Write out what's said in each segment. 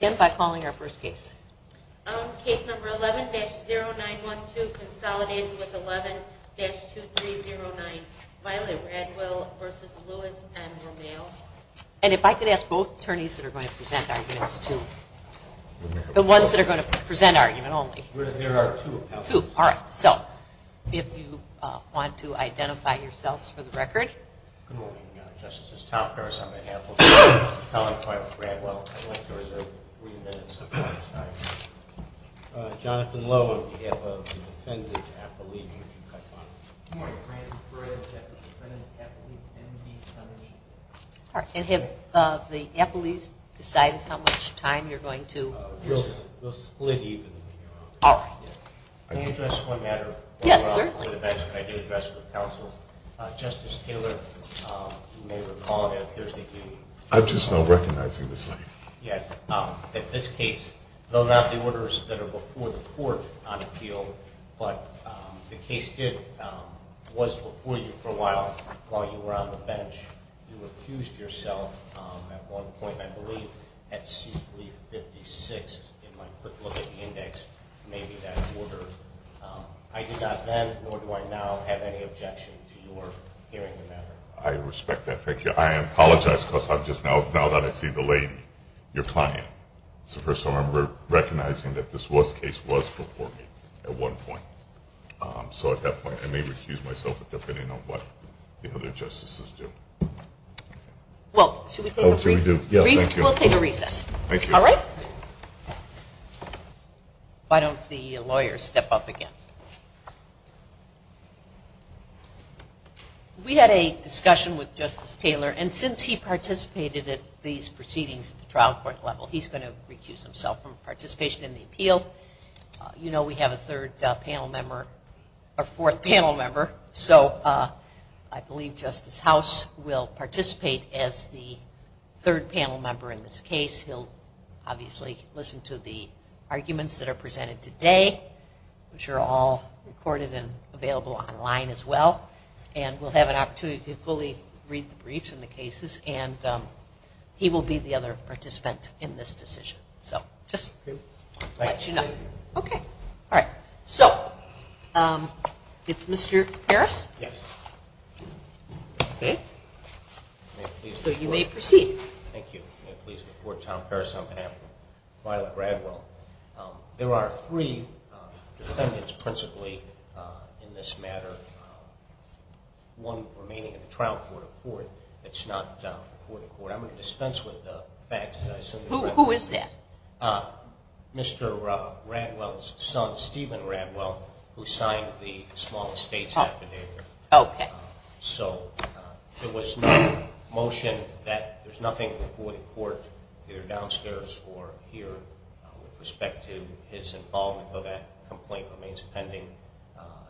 And if I could ask both attorneys that are going to present arguments to the ones that are going to present argument only, there are two. All right. So if you want to identify yourselves for the record justices talk to us on behalf of the California Fire Department, I'd like to reserve the floor to you. Jonathan Lowe on behalf of the Defendant Appellee. And have the appellees decided how much time you're going to? We'll split even. All right. Can I address one matter? Yes, certainly. One matter that I do address with counsel, Justice Taylor, you may recall that Thursday evening. I'm just now recognizing this lady. Yes. In this case, though not the orders that are before the court on appeal, but the case was before you for a while while you were on the bench. You accused yourself at one point, I believe, at C356. In my quick look at the index, maybe that order. I did not then, nor do I now, have any objection to your hearing the matter. I respect that. Thank you. I apologize because I'm just now going to see the lady, your client. So first of all, I'm recognizing that this case was before me at one point. So at that point I may recuse myself depending on what the other justices do. Well, should we take a recess? Yes, thank you. We'll take a recess. Thank you. All right. Why don't the lawyers step up again? We had a discussion with Justice Taylor. And since he participated at these proceedings at the trial court level, he's going to recuse himself from participation in the appeal. You know we have a third panel member, a fourth panel member. So I believe Justice House will participate as the third panel member in this case. He'll obviously listen to the arguments that are presented today, which are all recorded and available online as well. And we'll have an opportunity to fully read the briefs and the cases. And he will be the other participant in this decision. So just to let you know. Thank you. Okay. All right. So it's Mr. Harris? Yes. Okay. So you may proceed. Thank you. May it please the Court, Tom Harris on behalf of Violet Radwell. There are three defendants principally in this matter, one remaining at the trial court. It's not court to court. I'm going to dispense with the facts. Who is that? Mr. Radwell's son, Stephen Radwell, who signed the small estate affidavit. Okay. So there was no motion that there's nothing court to court either downstairs or here with respect to his involvement. So that complaint remains pending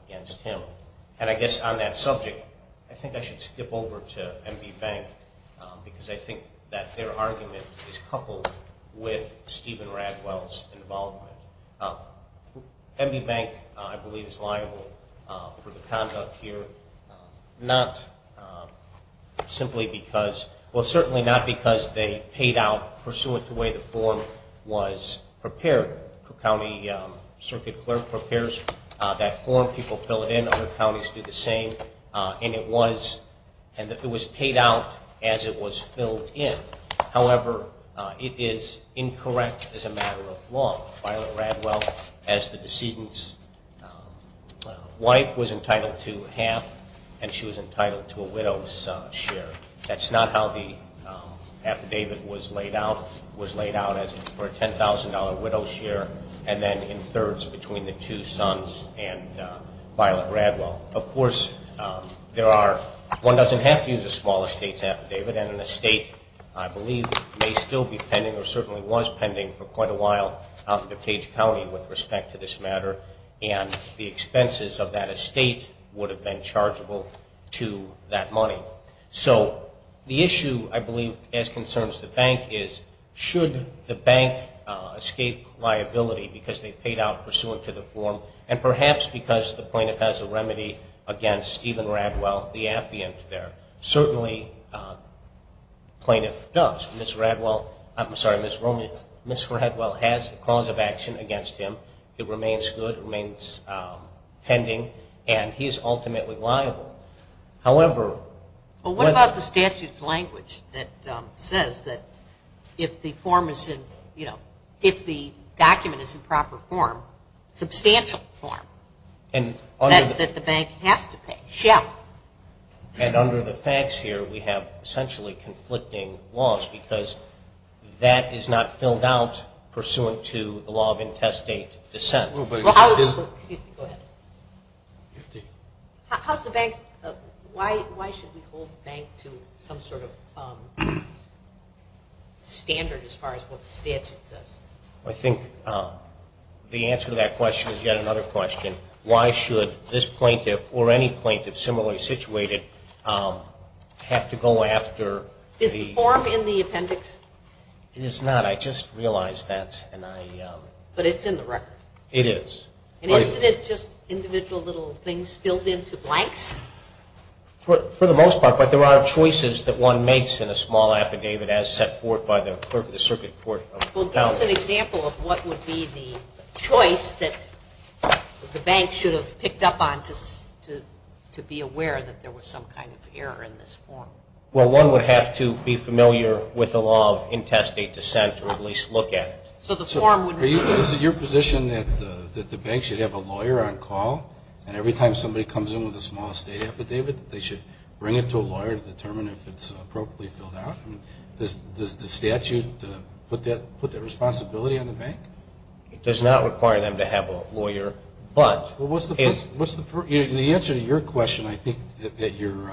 against him. And I guess on that subject, I think I should skip over to MB Bank because I think that their argument is coupled with Stephen Radwell's involvement. MB Bank, I believe, is liable for the conduct here not simply because, well certainly not because they paid out pursuant to the way the form was prepared. The county circuit clerk prepares that form. People fill it in. Other counties do the same. And it was paid out as it was filled in. However, it is incorrect as a matter of law. Violet Radwell, as the decedent's wife, was entitled to half and she was entitled to a widow's share. That's not how the affidavit was laid out. It was laid out as for a $10,000 widow's share and then in thirds between the two sons and Violet Radwell. Of course, one doesn't have to use a small estate affidavit and an estate, I believe, may still be pending or certainly was pending for quite a while out in DuPage County with respect to this matter. And the expenses of that estate would have been chargeable to that money. So the issue, I believe, as concerns the bank is should the bank escape liability because they paid out pursuant to the form and perhaps because the plaintiff has a remedy against Stephen Radwell, the affiant there. Certainly, the plaintiff does. Ms. Radwell has a cause of action against him. It remains good. It remains pending. And he is ultimately liable. Well, what about the statute's language that says that if the form is in, you know, if the document is in proper form, substantial form, that the bank has to pay? And under the facts here, we have essentially conflicting laws because that is not filled out pursuant to the law of intestate dissent. Go ahead. How's the bank? Why should we hold the bank to some sort of standard as far as what the statute says? I think the answer to that question is yet another question. Why should this plaintiff or any plaintiff similarly situated have to go after the – Is the form in the appendix? It is not. I just realized that. But it's in the record? It is. And isn't it just individual little things filled into blanks? For the most part, but there are choices that one makes in a small affidavit as set forth by the clerk of the circuit court of appellate. Well, give us an example of what would be the choice that the bank should have picked up on to be aware that there was some kind of error in this form. Well, one would have to be familiar with the law of intestate dissent or at least look at it. So the form wouldn't be – Is it your position that the bank should have a lawyer on call and every time somebody comes in with a small estate affidavit, they should bring it to a lawyer to determine if it's appropriately filled out? Does the statute put that responsibility on the bank? It does not require them to have a lawyer, but – The answer to your question, I think, that your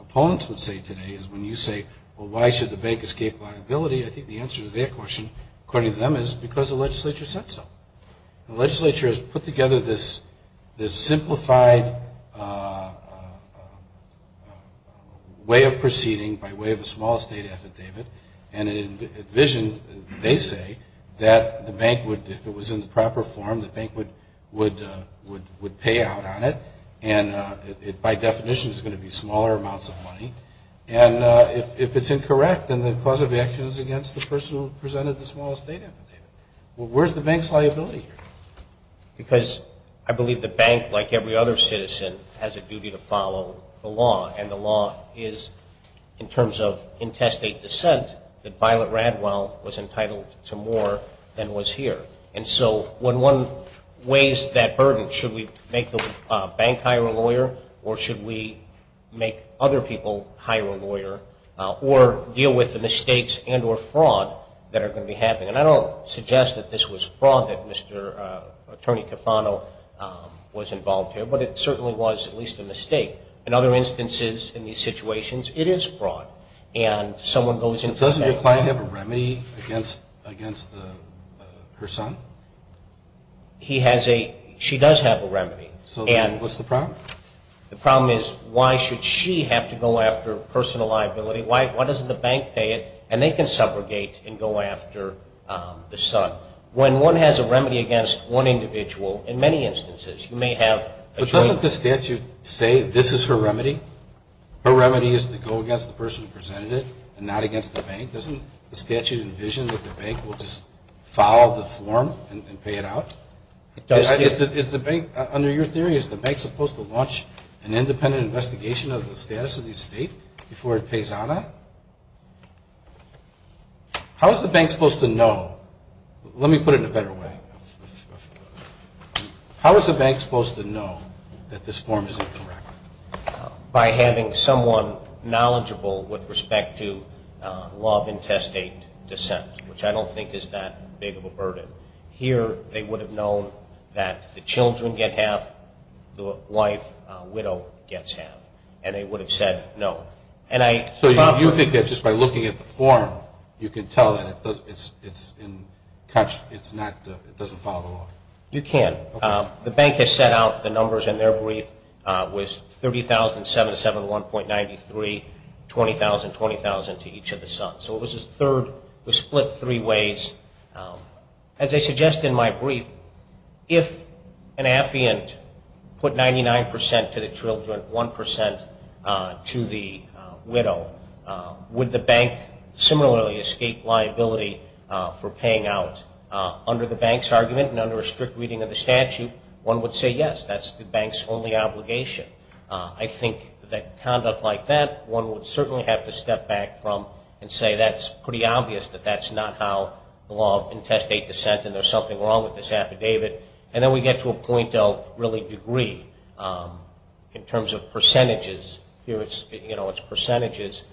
opponents would say today is when you say, well, why should the bank escape liability? I think the answer to their question, according to them, is because the legislature said so. The legislature has put together this simplified way of proceeding by way of a small estate affidavit and it envisioned, they say, that the bank would, if it was in the proper form, the bank would pay out on it and it by definition is going to be smaller amounts of money. And if it's incorrect, then the cause of action is against the person who presented the small estate affidavit. Well, where's the bank's liability here? Because I believe the bank, like every other citizen, has a duty to follow the law and the law is, in terms of intestate dissent, that Violet Radwell was entitled to more than was here. And so when one weighs that burden, should we make the bank hire a lawyer or should we make other people hire a lawyer or deal with the mistakes and or fraud that are going to be happening? And I don't suggest that this was fraud, that Mr. Attorney Cofano was involved here, but it certainly was at least a mistake. In other instances in these situations, it is fraud. And someone goes into the bank. But doesn't your client have a remedy against her son? He has a, she does have a remedy. So then what's the problem? The problem is why should she have to go after personal liability? Why doesn't the bank pay it? And they can subrogate and go after the son. When one has a remedy against one individual, in many instances you may have a joint. But doesn't the statute say this is her remedy? Her remedy is to go against the person who presented it and not against the bank. Doesn't the statute envision that the bank will just follow the form and pay it out? Under your theory, is the bank supposed to launch an independent investigation of the status of the estate before it pays out on it? How is the bank supposed to know? Let me put it in a better way. How is the bank supposed to know that this form is incorrect? By having someone knowledgeable with respect to law of intestate descent, which I don't think is that big of a burden. Here they would have known that the children get half, the wife, widow, gets half. And they would have said no. So you think that just by looking at the form you can tell that it doesn't follow the law? You can. The bank has set out the numbers in their brief with 30,000, 7 to 7, 1.93, 20,000, 20,000 to each of the sons. So it was a split three ways. As I suggest in my brief, if an affiant put 99% to the children, 1% to the widow, would the bank similarly escape liability for paying out? Under the bank's argument and under a strict reading of the statute, one would say yes, that's the bank's only obligation. I think that conduct like that one would certainly have to step back from and say that's pretty obvious that that's not how the law of intestate descent and there's something wrong with this affidavit. And then we get to a point of really degree in terms of percentages. Here it's percentages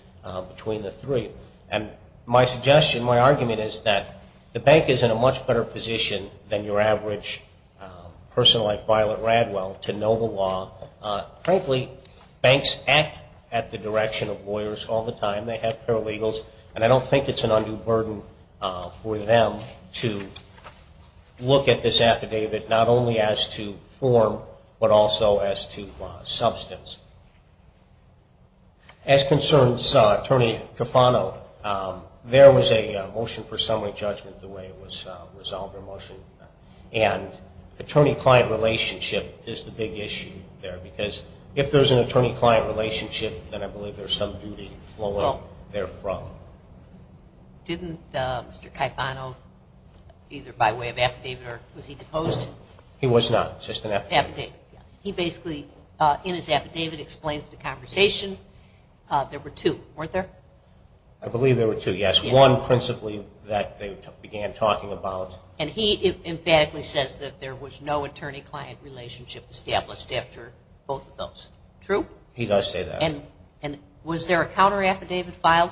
between the three. And my suggestion, my argument is that the bank is in a much better position than your average person like Violet Radwell to know the law. Frankly, banks act at the direction of lawyers all the time. They have paralegals. And I don't think it's an undue burden for them to look at this affidavit not only as to form but also as to substance. As concerns Attorney Cofano, there was a motion for summary judgment the way it was resolved and attorney-client relationship is the big issue there because if there's an attorney-client relationship, then I believe there's some duty flowing therefrom. Didn't Mr. Cofano either by way of affidavit or was he deposed? He was not. Just an affidavit. He basically in his affidavit explains the conversation. There were two, weren't there? I believe there were two, yes. One principally that they began talking about. And he emphatically says that there was no attorney-client relationship established after both of those. True? He does say that. And was there a counter-affidavit filed?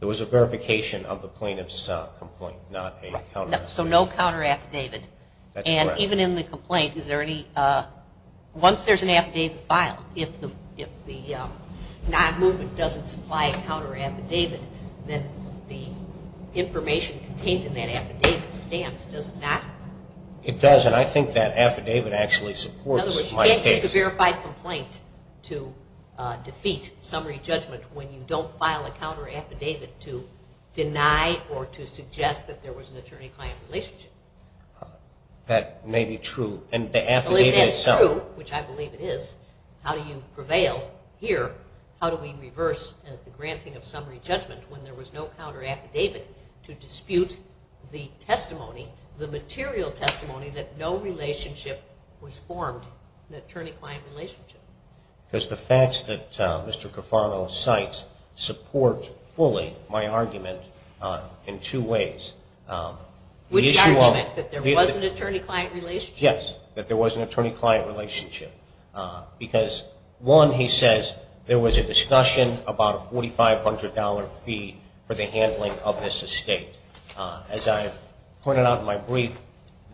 There was a verification of the plaintiff's complaint, not a counter-affidavit. So no counter-affidavit. That's correct. And even in the complaint, is there any, once there's an affidavit filed, if the non-movement doesn't supply a counter-affidavit, then the information contained in that affidavit stands, does it not? It does, and I think that affidavit actually supports my case. In other words, you can't use a verified complaint to defeat summary judgment when you don't file a counter-affidavit to deny or to suggest that there was an attorney-client relationship. That may be true. And the affidavit itself. Well, if that's true, which I believe it is, how do you prevail here? How do we reverse the granting of summary judgment when there was no counter-affidavit to dispute the testimony, the material testimony, that no relationship was formed, an attorney-client relationship? Because the facts that Mr. Cofano cites support fully my argument in two ways. With the argument that there was an attorney-client relationship? Yes, that there was an attorney-client relationship. Because, one, he says there was a discussion about a $4,500 fee for the handling of this estate. As I pointed out in my brief,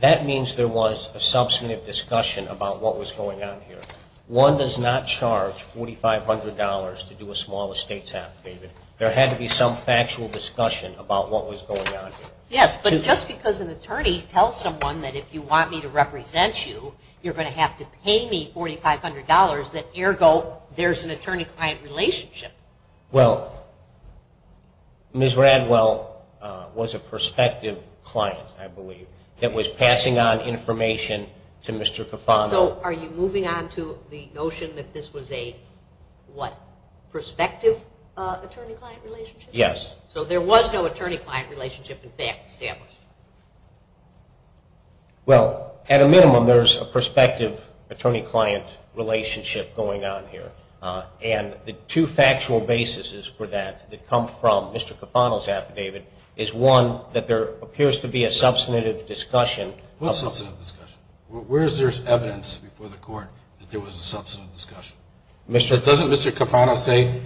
that means there was a substantive discussion about what was going on here. One does not charge $4,500 to do a small estate affidavit. There had to be some factual discussion about what was going on here. Yes, but just because an attorney tells someone that if you want me to represent you, you're going to have to pay me $4,500, that, ergo, there's an attorney-client relationship. Well, Ms. Radwell was a prospective client, I believe, that was passing on information to Mr. Cofano. So are you moving on to the notion that this was a, what, prospective attorney-client relationship? Yes. So there was no attorney-client relationship, in fact, established? Well, at a minimum, there's a prospective attorney-client relationship going on here. And the two factual basis for that that come from Mr. Cofano's affidavit is, one, that there appears to be a substantive discussion. What substantive discussion? Where is there evidence before the court that there was a substantive discussion? Doesn't Mr. Cofano say,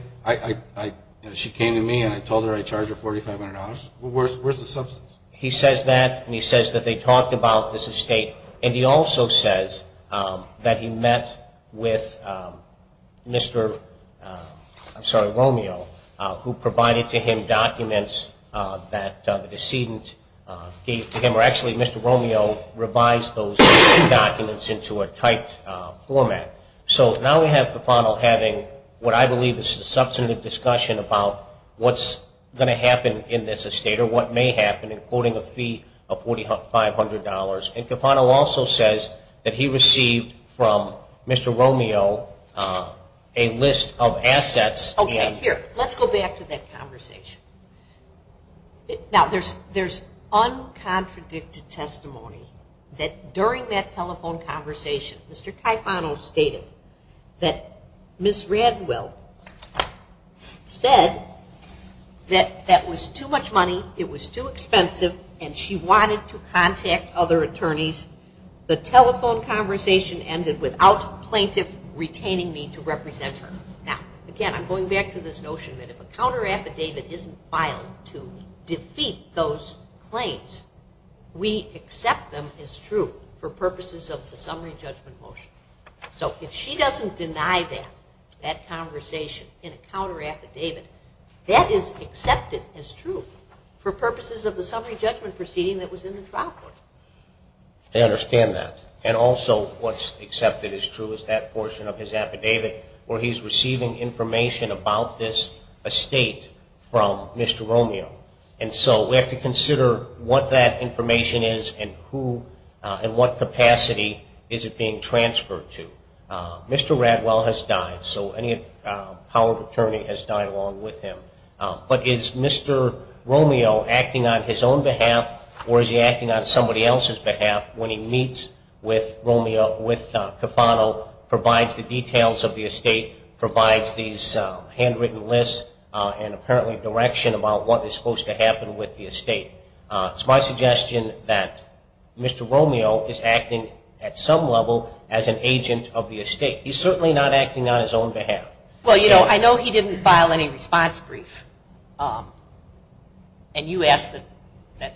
she came to me and I told her I'd charge her $4,500? Where's the substance? He says that, and he says that they talked about this estate. And he also says that he met with Mr. Romeo, who provided to him documents that the decedent gave to him. Or actually, Mr. Romeo revised those documents into a typed format. So now we have Cofano having what I believe is a substantive discussion about what's going to happen in this estate or what may happen, including a fee of $4,500. And Cofano also says that he received from Mr. Romeo a list of assets. Okay, here, let's go back to that conversation. Now, there's uncontradicted testimony that during that telephone conversation, Mr. Cofano stated that Ms. Radwell said that that was too much money, it was too expensive, and she wanted to contact other attorneys. The telephone conversation ended without plaintiff retaining me to represent her. Now, again, I'm going back to this notion that if a counteraffidavit isn't filed to defeat those claims, we accept them as true for purposes of the summary judgment motion. So if she doesn't deny that, that conversation in a counteraffidavit, that is accepted as true for purposes of the summary judgment proceeding that was in the trial court. I understand that. And also what's accepted as true is that portion of his affidavit where he's receiving information about this estate from Mr. Romeo. And so we have to consider what that information is and who and what capacity is it being transferred to. Mr. Radwell has died, so any power of attorney has died along with him. But is Mr. Romeo acting on his own behalf or is he acting on somebody else's behalf when he meets with Romeo, with Cofano, provides the details of the estate, provides these handwritten lists and apparently direction about what is supposed to happen with the estate. It's my suggestion that Mr. Romeo is acting at some level as an agent of the estate. He's certainly not acting on his own behalf. Well, you know, I know he didn't file any response brief. And you asked that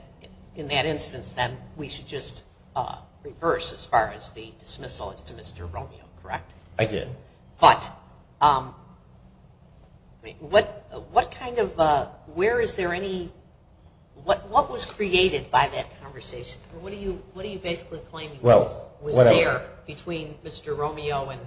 in that instance then we should just reverse as far as the dismissal as to Mr. Romeo, correct? I did. But what kind of, where is there any, what was created by that conversation? What are you basically claiming was there between Mr. Romeo and?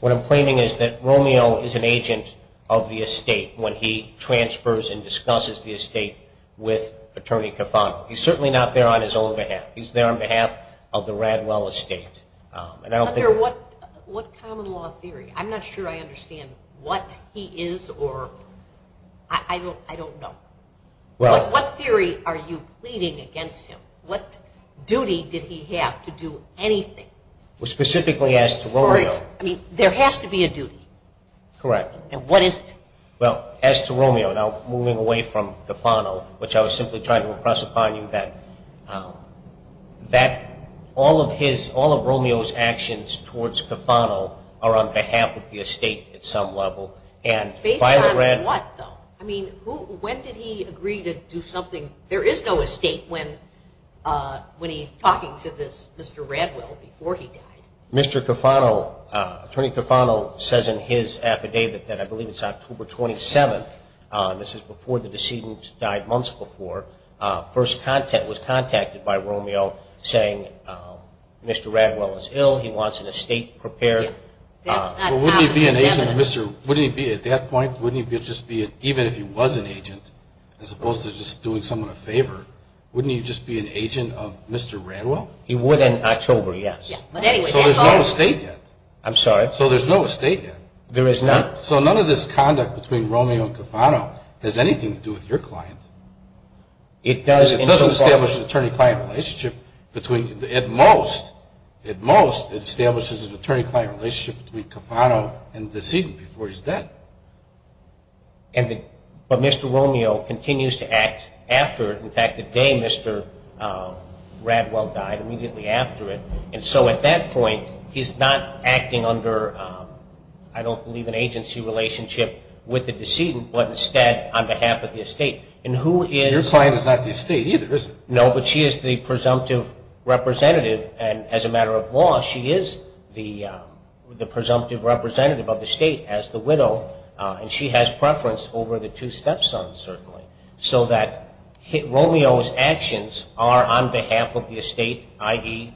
What I'm claiming is that Romeo is an agent of the estate when he transfers and discusses the estate with Attorney Cofano. He's certainly not there on his own behalf. He's there on behalf of the Radwell estate. What common law theory? I'm not sure I understand what he is or I don't know. What theory are you pleading against him? What duty did he have to do anything? Well, specifically as to Romeo. I mean, there has to be a duty. Correct. And what is it? Well, as to Romeo, now moving away from Cofano, which I was simply trying to impress upon you that all of his, all of Romeo's actions towards Cofano are on behalf of the estate at some level. Based on what though? I mean, when did he agree to do something? There is no estate when he's talking to this Mr. Radwell before he died. Mr. Cofano, Attorney Cofano says in his affidavit that I believe it's October 27th. This is before the decedent died months before. First contact was contacted by Romeo saying Mr. Radwell is ill. He wants an estate prepared. But wouldn't he be an agent of Mr. Wouldn't he be at that point? Even if he was an agent, as opposed to just doing someone a favor, wouldn't he just be an agent of Mr. Radwell? He would in October, yes. So there's no estate yet. I'm sorry? So there's no estate yet. There is not. So none of this conduct between Romeo and Cofano has anything to do with your client. It does in some part. It doesn't establish an attorney-client relationship between, at most, it establishes an attorney-client relationship between Cofano and the decedent before he's dead. But Mr. Romeo continues to act after, in fact, the day Mr. Radwell died, immediately after it. And so at that point, he's not acting under, I don't believe, an agency relationship with the decedent, but instead on behalf of the estate. And who is Your client is not the estate either, is she? No, but she is the presumptive representative, and as a matter of law, she is the presumptive representative of the estate as the widow, and she has preference over the two stepsons, certainly, so that Romeo's actions are on behalf of the estate, i.e.,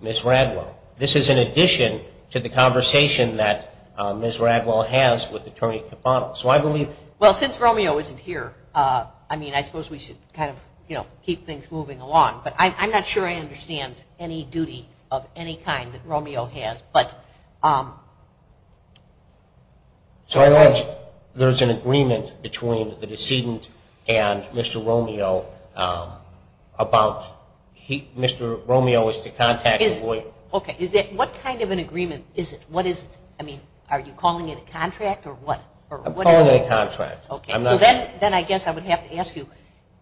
Ms. Radwell. This is in addition to the conversation that Ms. Radwell has with Attorney Cofano. So I believe Well, since Romeo isn't here, I mean, I suppose we should kind of, you know, keep things moving along, but I'm not sure I understand any duty of any kind that Romeo has. So I know there's an agreement between the decedent and Mr. Romeo about Mr. Romeo is to contact the boy. Okay. What kind of an agreement is it? What is it? I mean, are you calling it a contract or what? I'm calling it a contract. Okay. So then I guess I would have to ask you,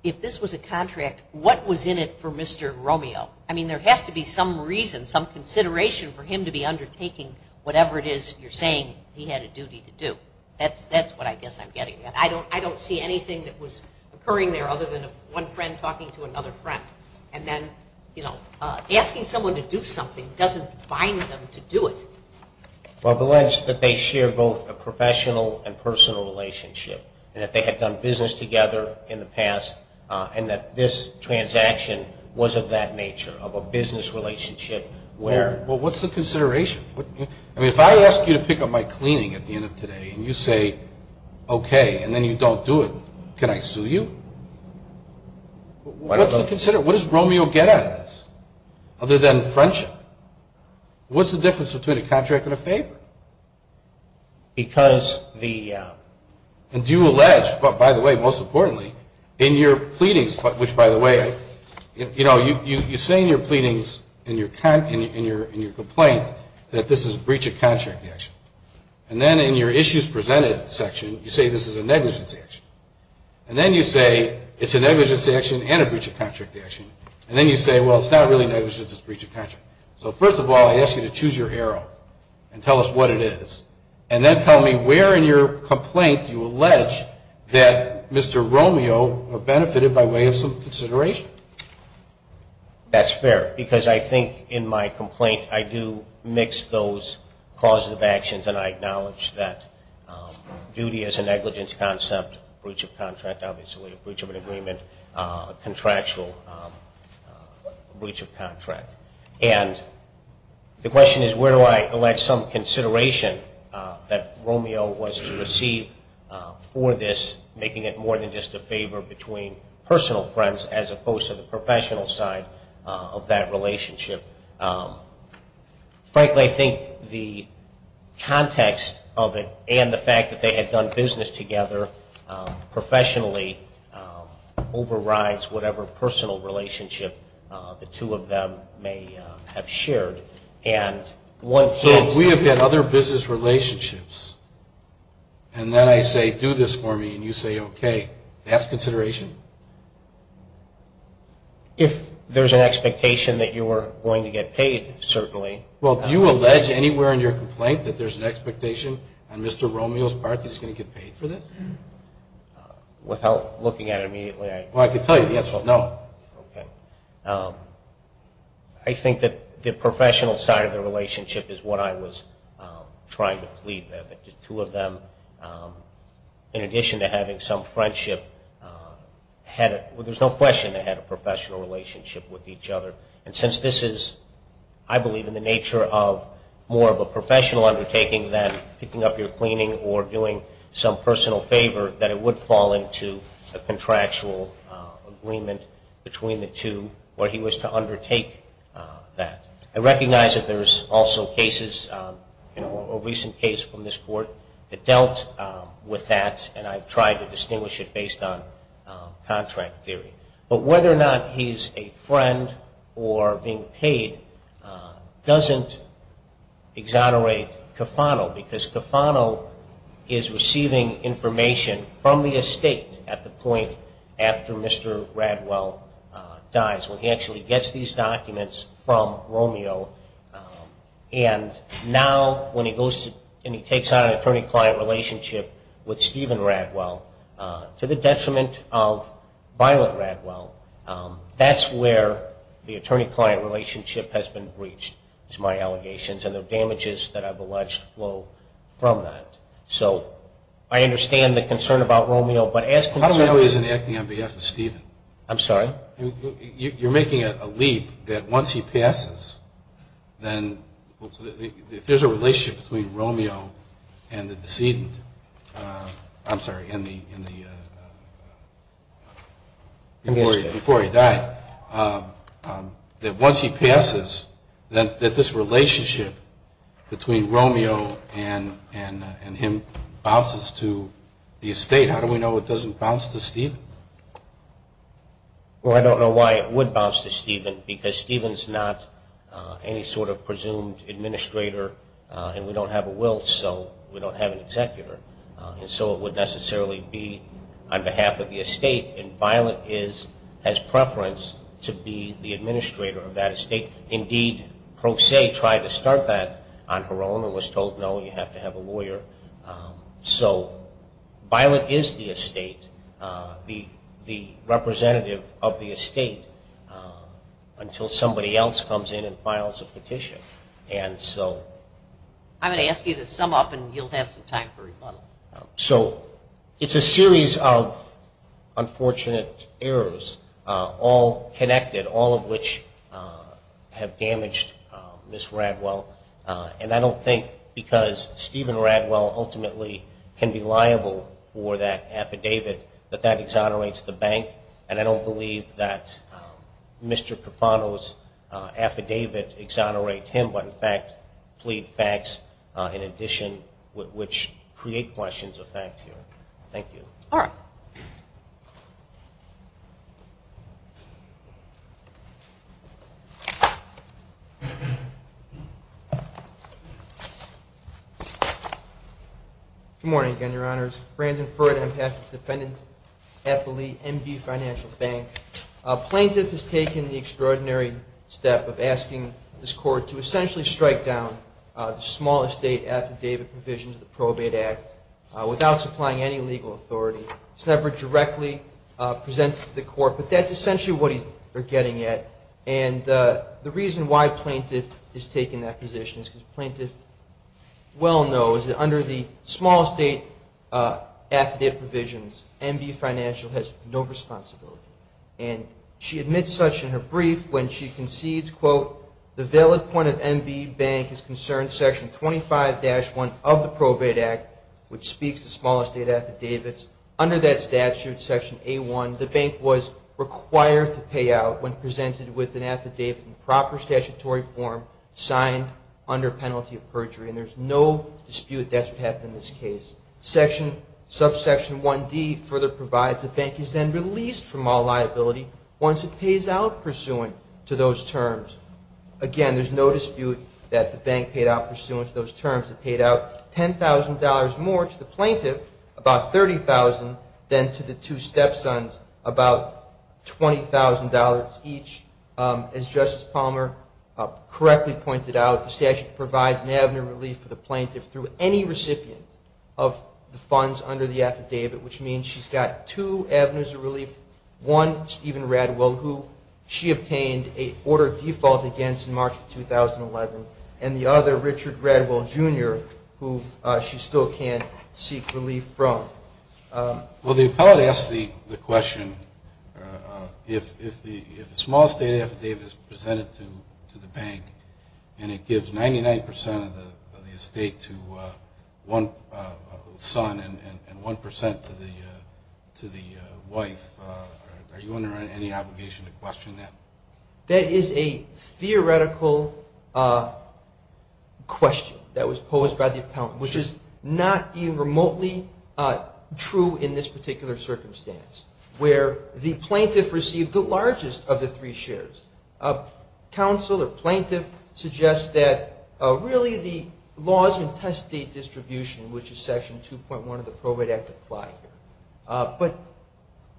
if this was a contract, what was in it for Mr. Romeo? I mean, there has to be some reason, some consideration for him to be undertaking whatever it is you're saying he had a duty to do. That's what I guess I'm getting at. I don't see anything that was occurring there other than one friend talking to another friend, and then, you know, asking someone to do something doesn't bind them to do it. Well, I believe that they share both a professional and personal relationship, and that they had done business together in the past, and that this transaction was of that nature, of a business relationship. Well, what's the consideration? I mean, if I ask you to pick up my cleaning at the end of today, and you say, okay, and then you don't do it, can I sue you? What's the consideration? What does Romeo get out of this other than friendship? What's the difference between a contract and a favor? Because the ‑‑ And do you allege, but by the way, most importantly, in your pleadings, which by the way, you know, you say in your pleadings, in your complaints, that this is a breach of contract action. And then in your issues presented section, you say this is a negligence action. And then you say it's a negligence action and a breach of contract action. And then you say, well, it's not really negligence. It's a breach of contract. So first of all, I ask you to choose your arrow and tell us what it is. And then tell me where in your complaint you allege that Mr. Romeo benefited by way of some consideration. That's fair, because I think in my complaint I do mix those causes of actions, and I acknowledge that duty as a negligence concept, breach of contract, obviously a breach of an agreement, contractual breach of contract. And the question is, where do I allege some consideration that Romeo was to receive for this, making it more than just a favor between personal friends as opposed to the professional side of that relationship? Frankly, I think the context of it and the fact that they had done business together professionally overrides whatever personal relationship the two of them may have shared. So if we have had other business relationships and then I say, do this for me, and you say, okay, that's consideration? If there's an expectation that you are going to get paid, certainly. Well, do you allege anywhere in your complaint that there's an expectation on Mr. Romeo's part that he's going to get paid for this? Without looking at it immediately, I can tell you the answer is no. Okay. I think that the professional side of the relationship is what I was trying to plead there, that the two of them, in addition to having some friendship, there's no question they had a professional relationship with each other. And since this is, I believe, in the nature of more of a professional undertaking than picking up your cleaning or doing some personal favor, that it would fall into a contractual agreement between the two where he was to undertake that. I recognize that there's also cases, a recent case from this court that dealt with that, and I've tried to distinguish it based on contract theory. But whether or not he's a friend or being paid doesn't exonerate Cofano because Cofano is receiving information from the estate at the point after Mr. Radwell dies, where he actually gets these documents from Romeo. And now when he goes and he takes out an attorney-client relationship with Mr. Radwell, that's where the attorney-client relationship has been breached, is my allegations, and the damages that I've alleged flow from that. So I understand the concern about Romeo, but as concerns... I don't know if he's acting on behalf of Stephen. I'm sorry? You're making a leap that once he passes, then if there's a relationship between Romeo and the decedent, I'm sorry, and the... Before he died, that once he passes, that this relationship between Romeo and him bounces to the estate, how do we know it doesn't bounce to Stephen? Well, I don't know why it would bounce to Stephen, because Stephen's not any sort of presumed administrator, and we don't have a will, so we don't have an agency that has preference to be the administrator of that estate. Indeed, Pro Se tried to start that on her own and was told, no, you have to have a lawyer. So Violet is the estate, the representative of the estate, until somebody else comes in and files a petition, and so... I'm going to ask you to sum up, and you'll have some time for rebuttal. So it's a series of unfortunate errors, all connected, all of which have damaged Ms. Radwell, and I don't think, because Stephen Radwell ultimately can be liable for that affidavit, that that exonerates the bank, and I don't believe that Mr. Profano's affidavit exonerates him, but in fact plead facts in addition, which create questions of fact here. Thank you. Good morning, again, Your Honors. Plaintiff has taken the extraordinary step of asking this Court to approve the affidavit provisions of the Probate Act without supplying any legal authority. It's never directly presented to the Court, but that's essentially what they're getting at, and the reason why plaintiff is taking that position is because plaintiff well knows that under the small estate affidavit provisions, MB Financial has no responsibility, and she admits such in her brief when she concedes, quote, the valid point of MB Bank is concerned Section 25-1 of the Probate Act, which speaks to small estate affidavits. Under that statute, Section A-1, the bank was required to pay out when presented with an affidavit in proper statutory form signed under penalty of perjury, and there's no dispute that that's what happened in this case. Subsection 1D further provides the bank is then released from all liability once it pays out pursuant to those terms. Again, there's no dispute that the bank paid out pursuant to those terms. It paid out $10,000 more to the plaintiff, about $30,000, then to the two step-sons, about $20,000 each. As Justice Palmer correctly pointed out, the statute provides an avenue of relief for the plaintiff through any recipient of the funds under the affidavit, which means she's got two avenues of relief, one, Stephen Radwell, who she obtained a order of default against in March of 2011, and the other, Richard Radwell, Jr., who she still can't seek relief from. Well, the appellate asks the question, if the small estate affidavit is presented to the bank and it gives 99% of the estate to one son and 1% to the wife, are you under any obligation to question that? That is a theoretical question that was posed by the appellant, which is not even remotely true in this particular circumstance, where the plaintiff received the largest of the three shares. Counsel or plaintiff suggests that really the laws and test date distribution, which is Section 2.1 of the Probate Act, apply here. But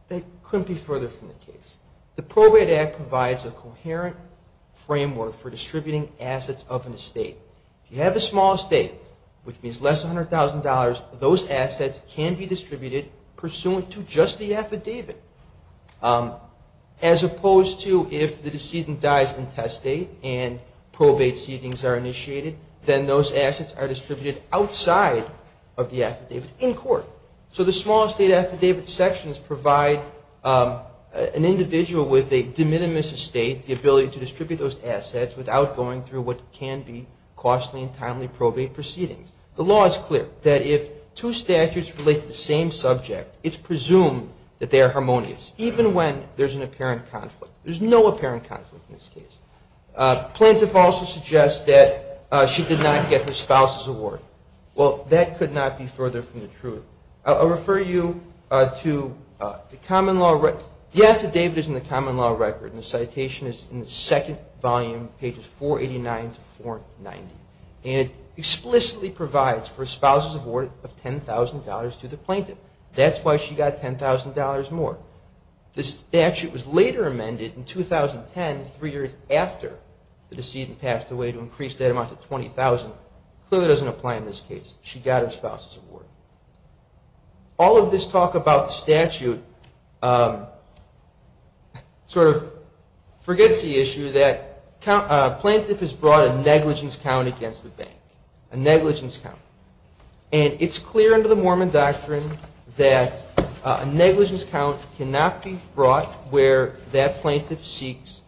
they couldn't be further from the case. The Probate Act provides a coherent framework for distributing assets of an estate. If you have a small estate, which means less than $100,000, those assets can be distributed pursuant to just the affidavit, as opposed to if the decedent dies in test date and probate seedings are initiated, then those assets are distributed outside of the affidavit in court. So the small estate affidavit sections provide an individual with a de minimis estate the ability to distribute those assets without going through what can be costly and timely probate proceedings. The law is clear that if two statutes relate to the same subject, it's presumed that they are harmonious, even when there's an apparent conflict. There's no apparent conflict in this case. Plaintiff also suggests that she did not get her spouse's award. I'll refer you to the common law record. The affidavit is in the common law record, and the citation is in the second volume, pages 489 to 490. And it explicitly provides for a spouse's award of $10,000 to the plaintiff. That's why she got $10,000 more. The statute was later amended in 2010, three years after the decedent passed away, to increase that amount to $10,000. All of this talk about the statute sort of forgets the issue that a plaintiff has brought a negligence count against the bank, a negligence count. And it's clear under the Mormon doctrine that a negligence count cannot be brought where that plaintiff seeks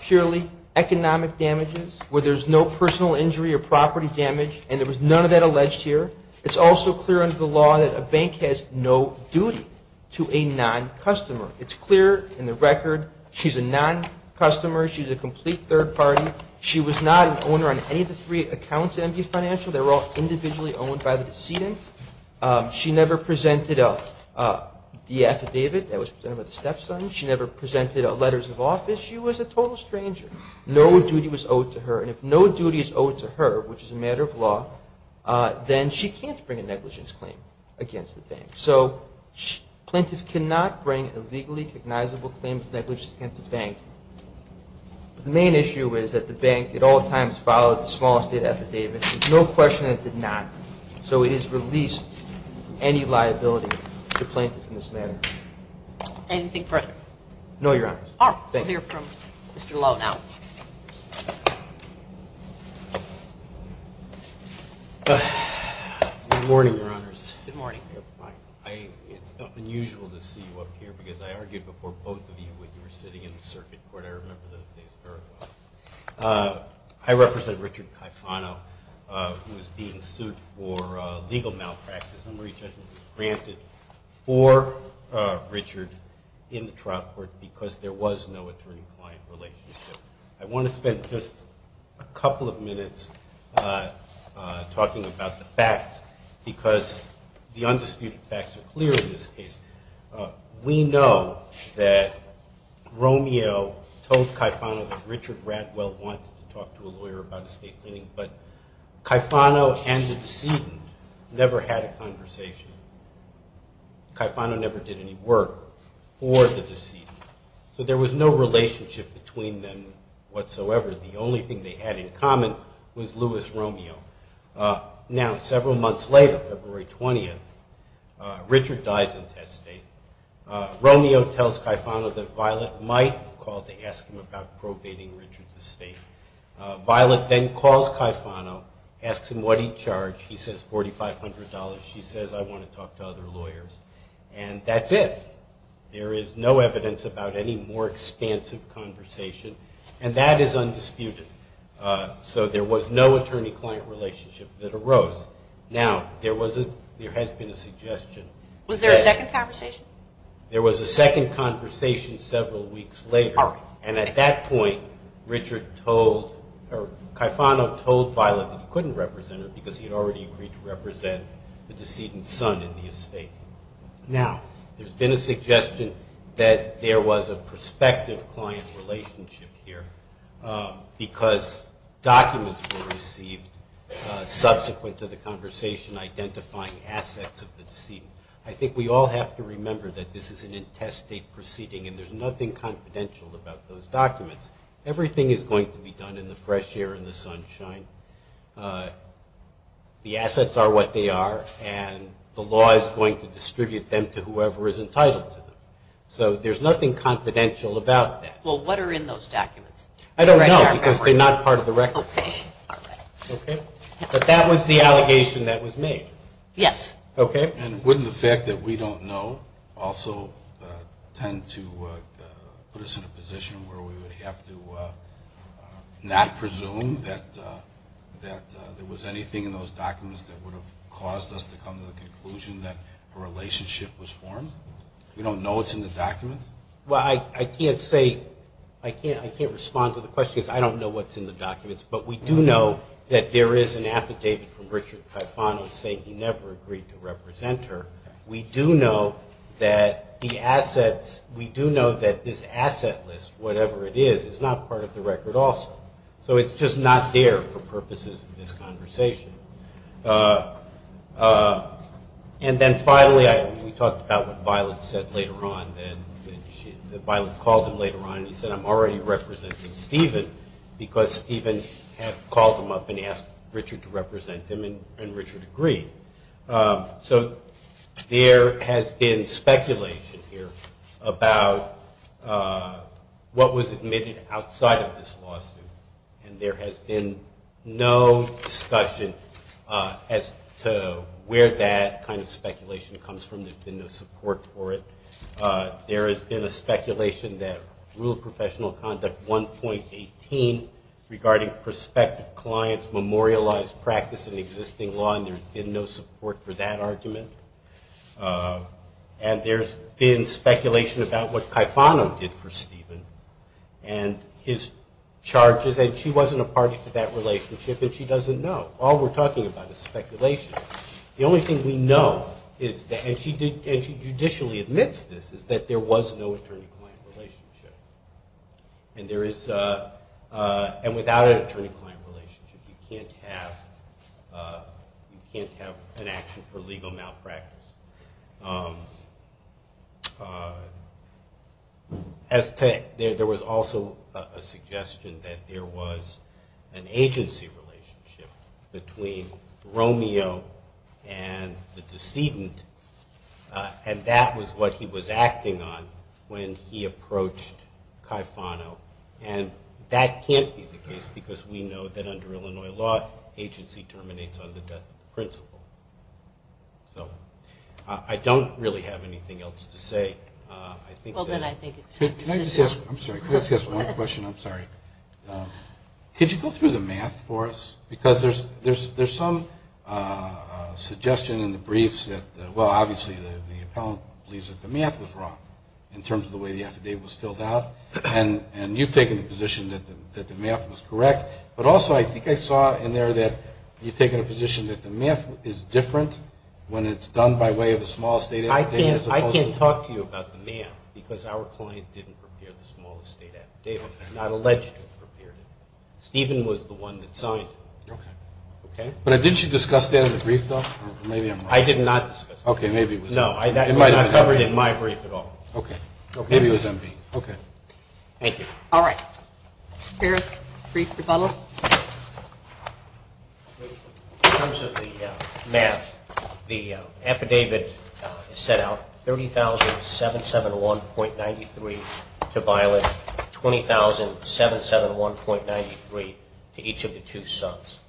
purely economic damages, where there's no personal injury or property damage, and there was none of that alleged here. It's also clear under the law that a bank has no duty to a non-customer. It's clear in the record she's a non-customer. She's a complete third party. She was not an owner on any of the three accounts at MV Financial. They were all individually owned by the decedent. She never presented the affidavit that was presented by the stepson. She never presented the affidavit that was presented by the stepson. If no duty is owed to her, which is a matter of law, then she can't bring a negligence claim against the bank. So a plaintiff cannot bring a legally recognizable claim of negligence against a bank. The main issue is that the bank at all times followed the small estate affidavit. There's no question that it did not. So it is clear that the court has not released any liability to plaintiff in this matter. Anything further? No, Your Honors. We'll hear from Mr. Lowe now. Good morning, Your Honors. Good morning. It's unusual to see you up here because I argued before both of you when you were sitting in the circuit court. I remember those days very well. I represent Richard Caifano, who was being sued for legal malpractice and re-judgment was granted for Richard in the trial court because there was no attorney-client relationship. I want to spend just a couple of minutes talking about the facts because the undisputed facts are clear in this case. We know that Romeo told Caifano that Richard Radwell wanted to talk to a lawyer about estate cleaning, but Caifano and the decedent never had a conversation. Caifano never did any work for the decedent. So there was no relationship between them whatsoever. The only thing they had in common was Louis Romeo. Now, several months later, February 20th, Richard dies in test state. Romeo tells Caifano that Violet might call to ask him about probating Richard's estate. Violet then calls Caifano, asks him what he'd charge. He says $4,500. She says, I want to talk to other lawyers. And that's it. There is no evidence about any more expansive conversation and that is undisputed. So there was no attorney-client relationship that arose. Now, there has been a suggestion. Was there a second conversation? There was a second conversation several weeks later, and at that point Caifano told Violet that he couldn't represent her because he had already agreed to represent the decedent's son in the estate. Now, there's been a suggestion that there was a prospective client relationship here because documents were received subsequent to the conversation identifying assets of the decedent. I think we all have to remember that this is an intestate proceeding and there's nothing confidential about those documents. Everything is going to be done in the fresh air and the sunshine. The assets are what they are and the law is going to distribute them to whoever is entitled to them. So there's nothing confidential about that. Well, what are in those documents? I don't know because they're not part of the record. But that was the allegation that was made. Yes. And wouldn't the fact that we don't know also tend to put us in a position where we would have to not presume that there was anything in those documents that would have caused us to come to the conclusion that a relationship was formed? We don't know what's in the documents? I can't respond to the question because I don't know what's in the documents, but we do know that there is an affidavit from Richard Caifano saying he never agreed to represent her. We do know that this asset list, whatever it is, is not part of the record also. So it's just not there for purposes of this conversation. And then finally, we talked about what Violet said later on. Violet called him later on and he said, I'm already representing Stephen because Stephen had called him up and asked Richard to represent him and Richard agreed. So there has been speculation here about what was admitted outside of this lawsuit. And there has been no discussion as to where that kind of speculation comes from. There's been no support for it. There has been a speculation that Rule of Professional Conduct 1.18 regarding prospective clients memorialized practice in existing law and there's been no support for that argument. And there's been speculation about what Caifano did for Stephen and his charges. And she wasn't a party to that relationship and she doesn't know. All we're talking about is speculation. The only thing we know is that and she judicially admits this, is that there was no attorney-client relationship. And without an attorney-client relationship you can't have an action for legal malpractice. There was also a suggestion that there was an agency relationship between Romeo and the decedent and that was what he was acting on when he approached Caifano. And that can't be the case because we know that under Illinois law agency terminates on the death of the principal. I don't really have anything else to say. Can I just ask one question? I'm sorry. Could you go through the math for us? Because there's some suggestion in the briefs that well, obviously the appellant believes that the math was wrong in terms of the way the affidavit was filled out. And you've taken the position that the math was correct. But also I think I saw in there that you've taken a position that the math is different when it's done by way of a small estate affidavit. I can't talk to you about the math because our client didn't prepare the small estate affidavit. It's not alleged to have prepared it. Stephen was the one that signed it. Okay. But didn't you discuss that in the brief though? I did not discuss it. Okay, maybe it was MP. No, that was not covered in my brief at all. Okay. Maybe it was MP. Okay. Thank you. All right. Barris, brief rebuttal. In terms of the math, the affidavit is set out 30,771.93 to Violet, 20,771.93 to each of the two sons.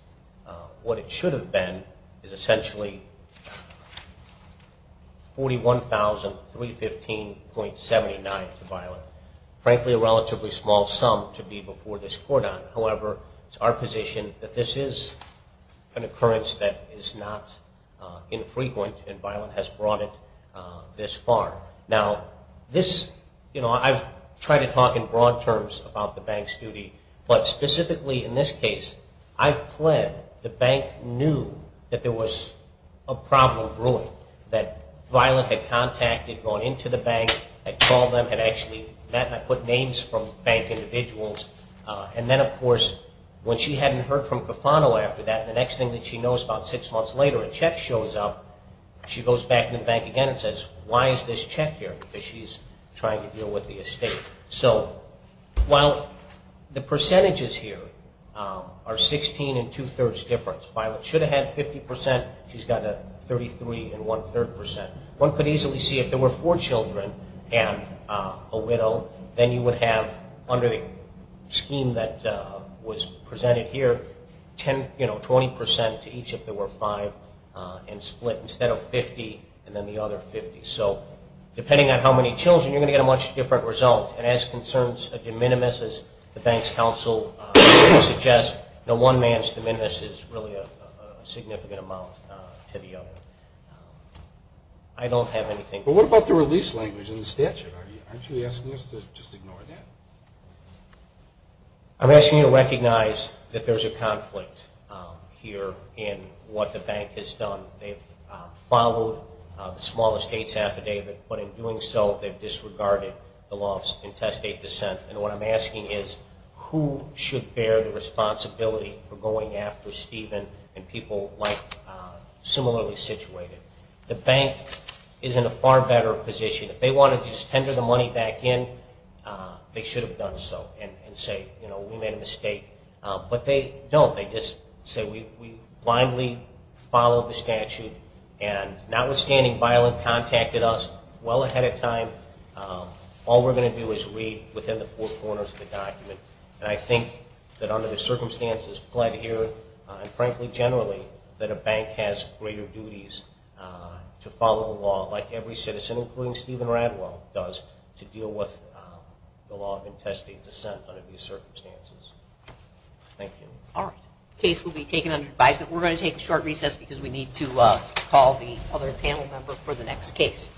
What it should have been is essentially 41,315.79 to Violet. Frankly a relatively small sum to be before this court on. However, it's our position that this is an occurrence that is not infrequent and Violet has brought it this far. I've tried to talk in broad terms about the bank's duty, but specifically in this case I've pled the bank knew that there was a problem brewing, that Violet had contacted, gone into the bank, had called them, had actually met, and I put names from bank individuals. And then of course when she hadn't heard from Cofano after that, the next thing that she knows about six months later a check shows up. She goes back in the bank again and says, why is this check here? Because she's trying to deal with the estate. While the percentages here are 16 and two-thirds difference, Violet should have had 50%, she's got a 33 and one-third percent. One could easily see if there were four children and a widow, then you would have under the scheme that was presented here 20% to each if there were five and split instead of 50 and then the other 50. So depending on how many children, you're going to get a much different result. And as concerns a de minimis, as the bank's counsel suggests, one man's de minimis is really a significant amount to the other. I don't have anything... But what about the release language in the statute? Aren't you asking us to just ignore that? I'm asking you to recognize that there's a conflict here in what the bank has done. They've followed the small estates affidavit, but in doing so they've disregarded the law of intestate descent. And what I'm asking is, who should bear the responsibility for going after Steven and people like... similarly situated? The bank is in a far better position. If they wanted to just tender the money back in, they should have done so and say, you know, we made a mistake. But they don't. They just say, we blindly followed the statute and notwithstanding Violent contacted us well ahead of time, all we're going to do is read within the four corners of the document. And I think that under the circumstances pled here and frankly generally that a bank has greater duties to follow the law like every citizen including Steven Radwell does to deal with the law of intestate descent under these circumstances. Thank you. Alright. The case will be taken under advisement. We're going to take a short recess because we need to call the other panel member for the next case.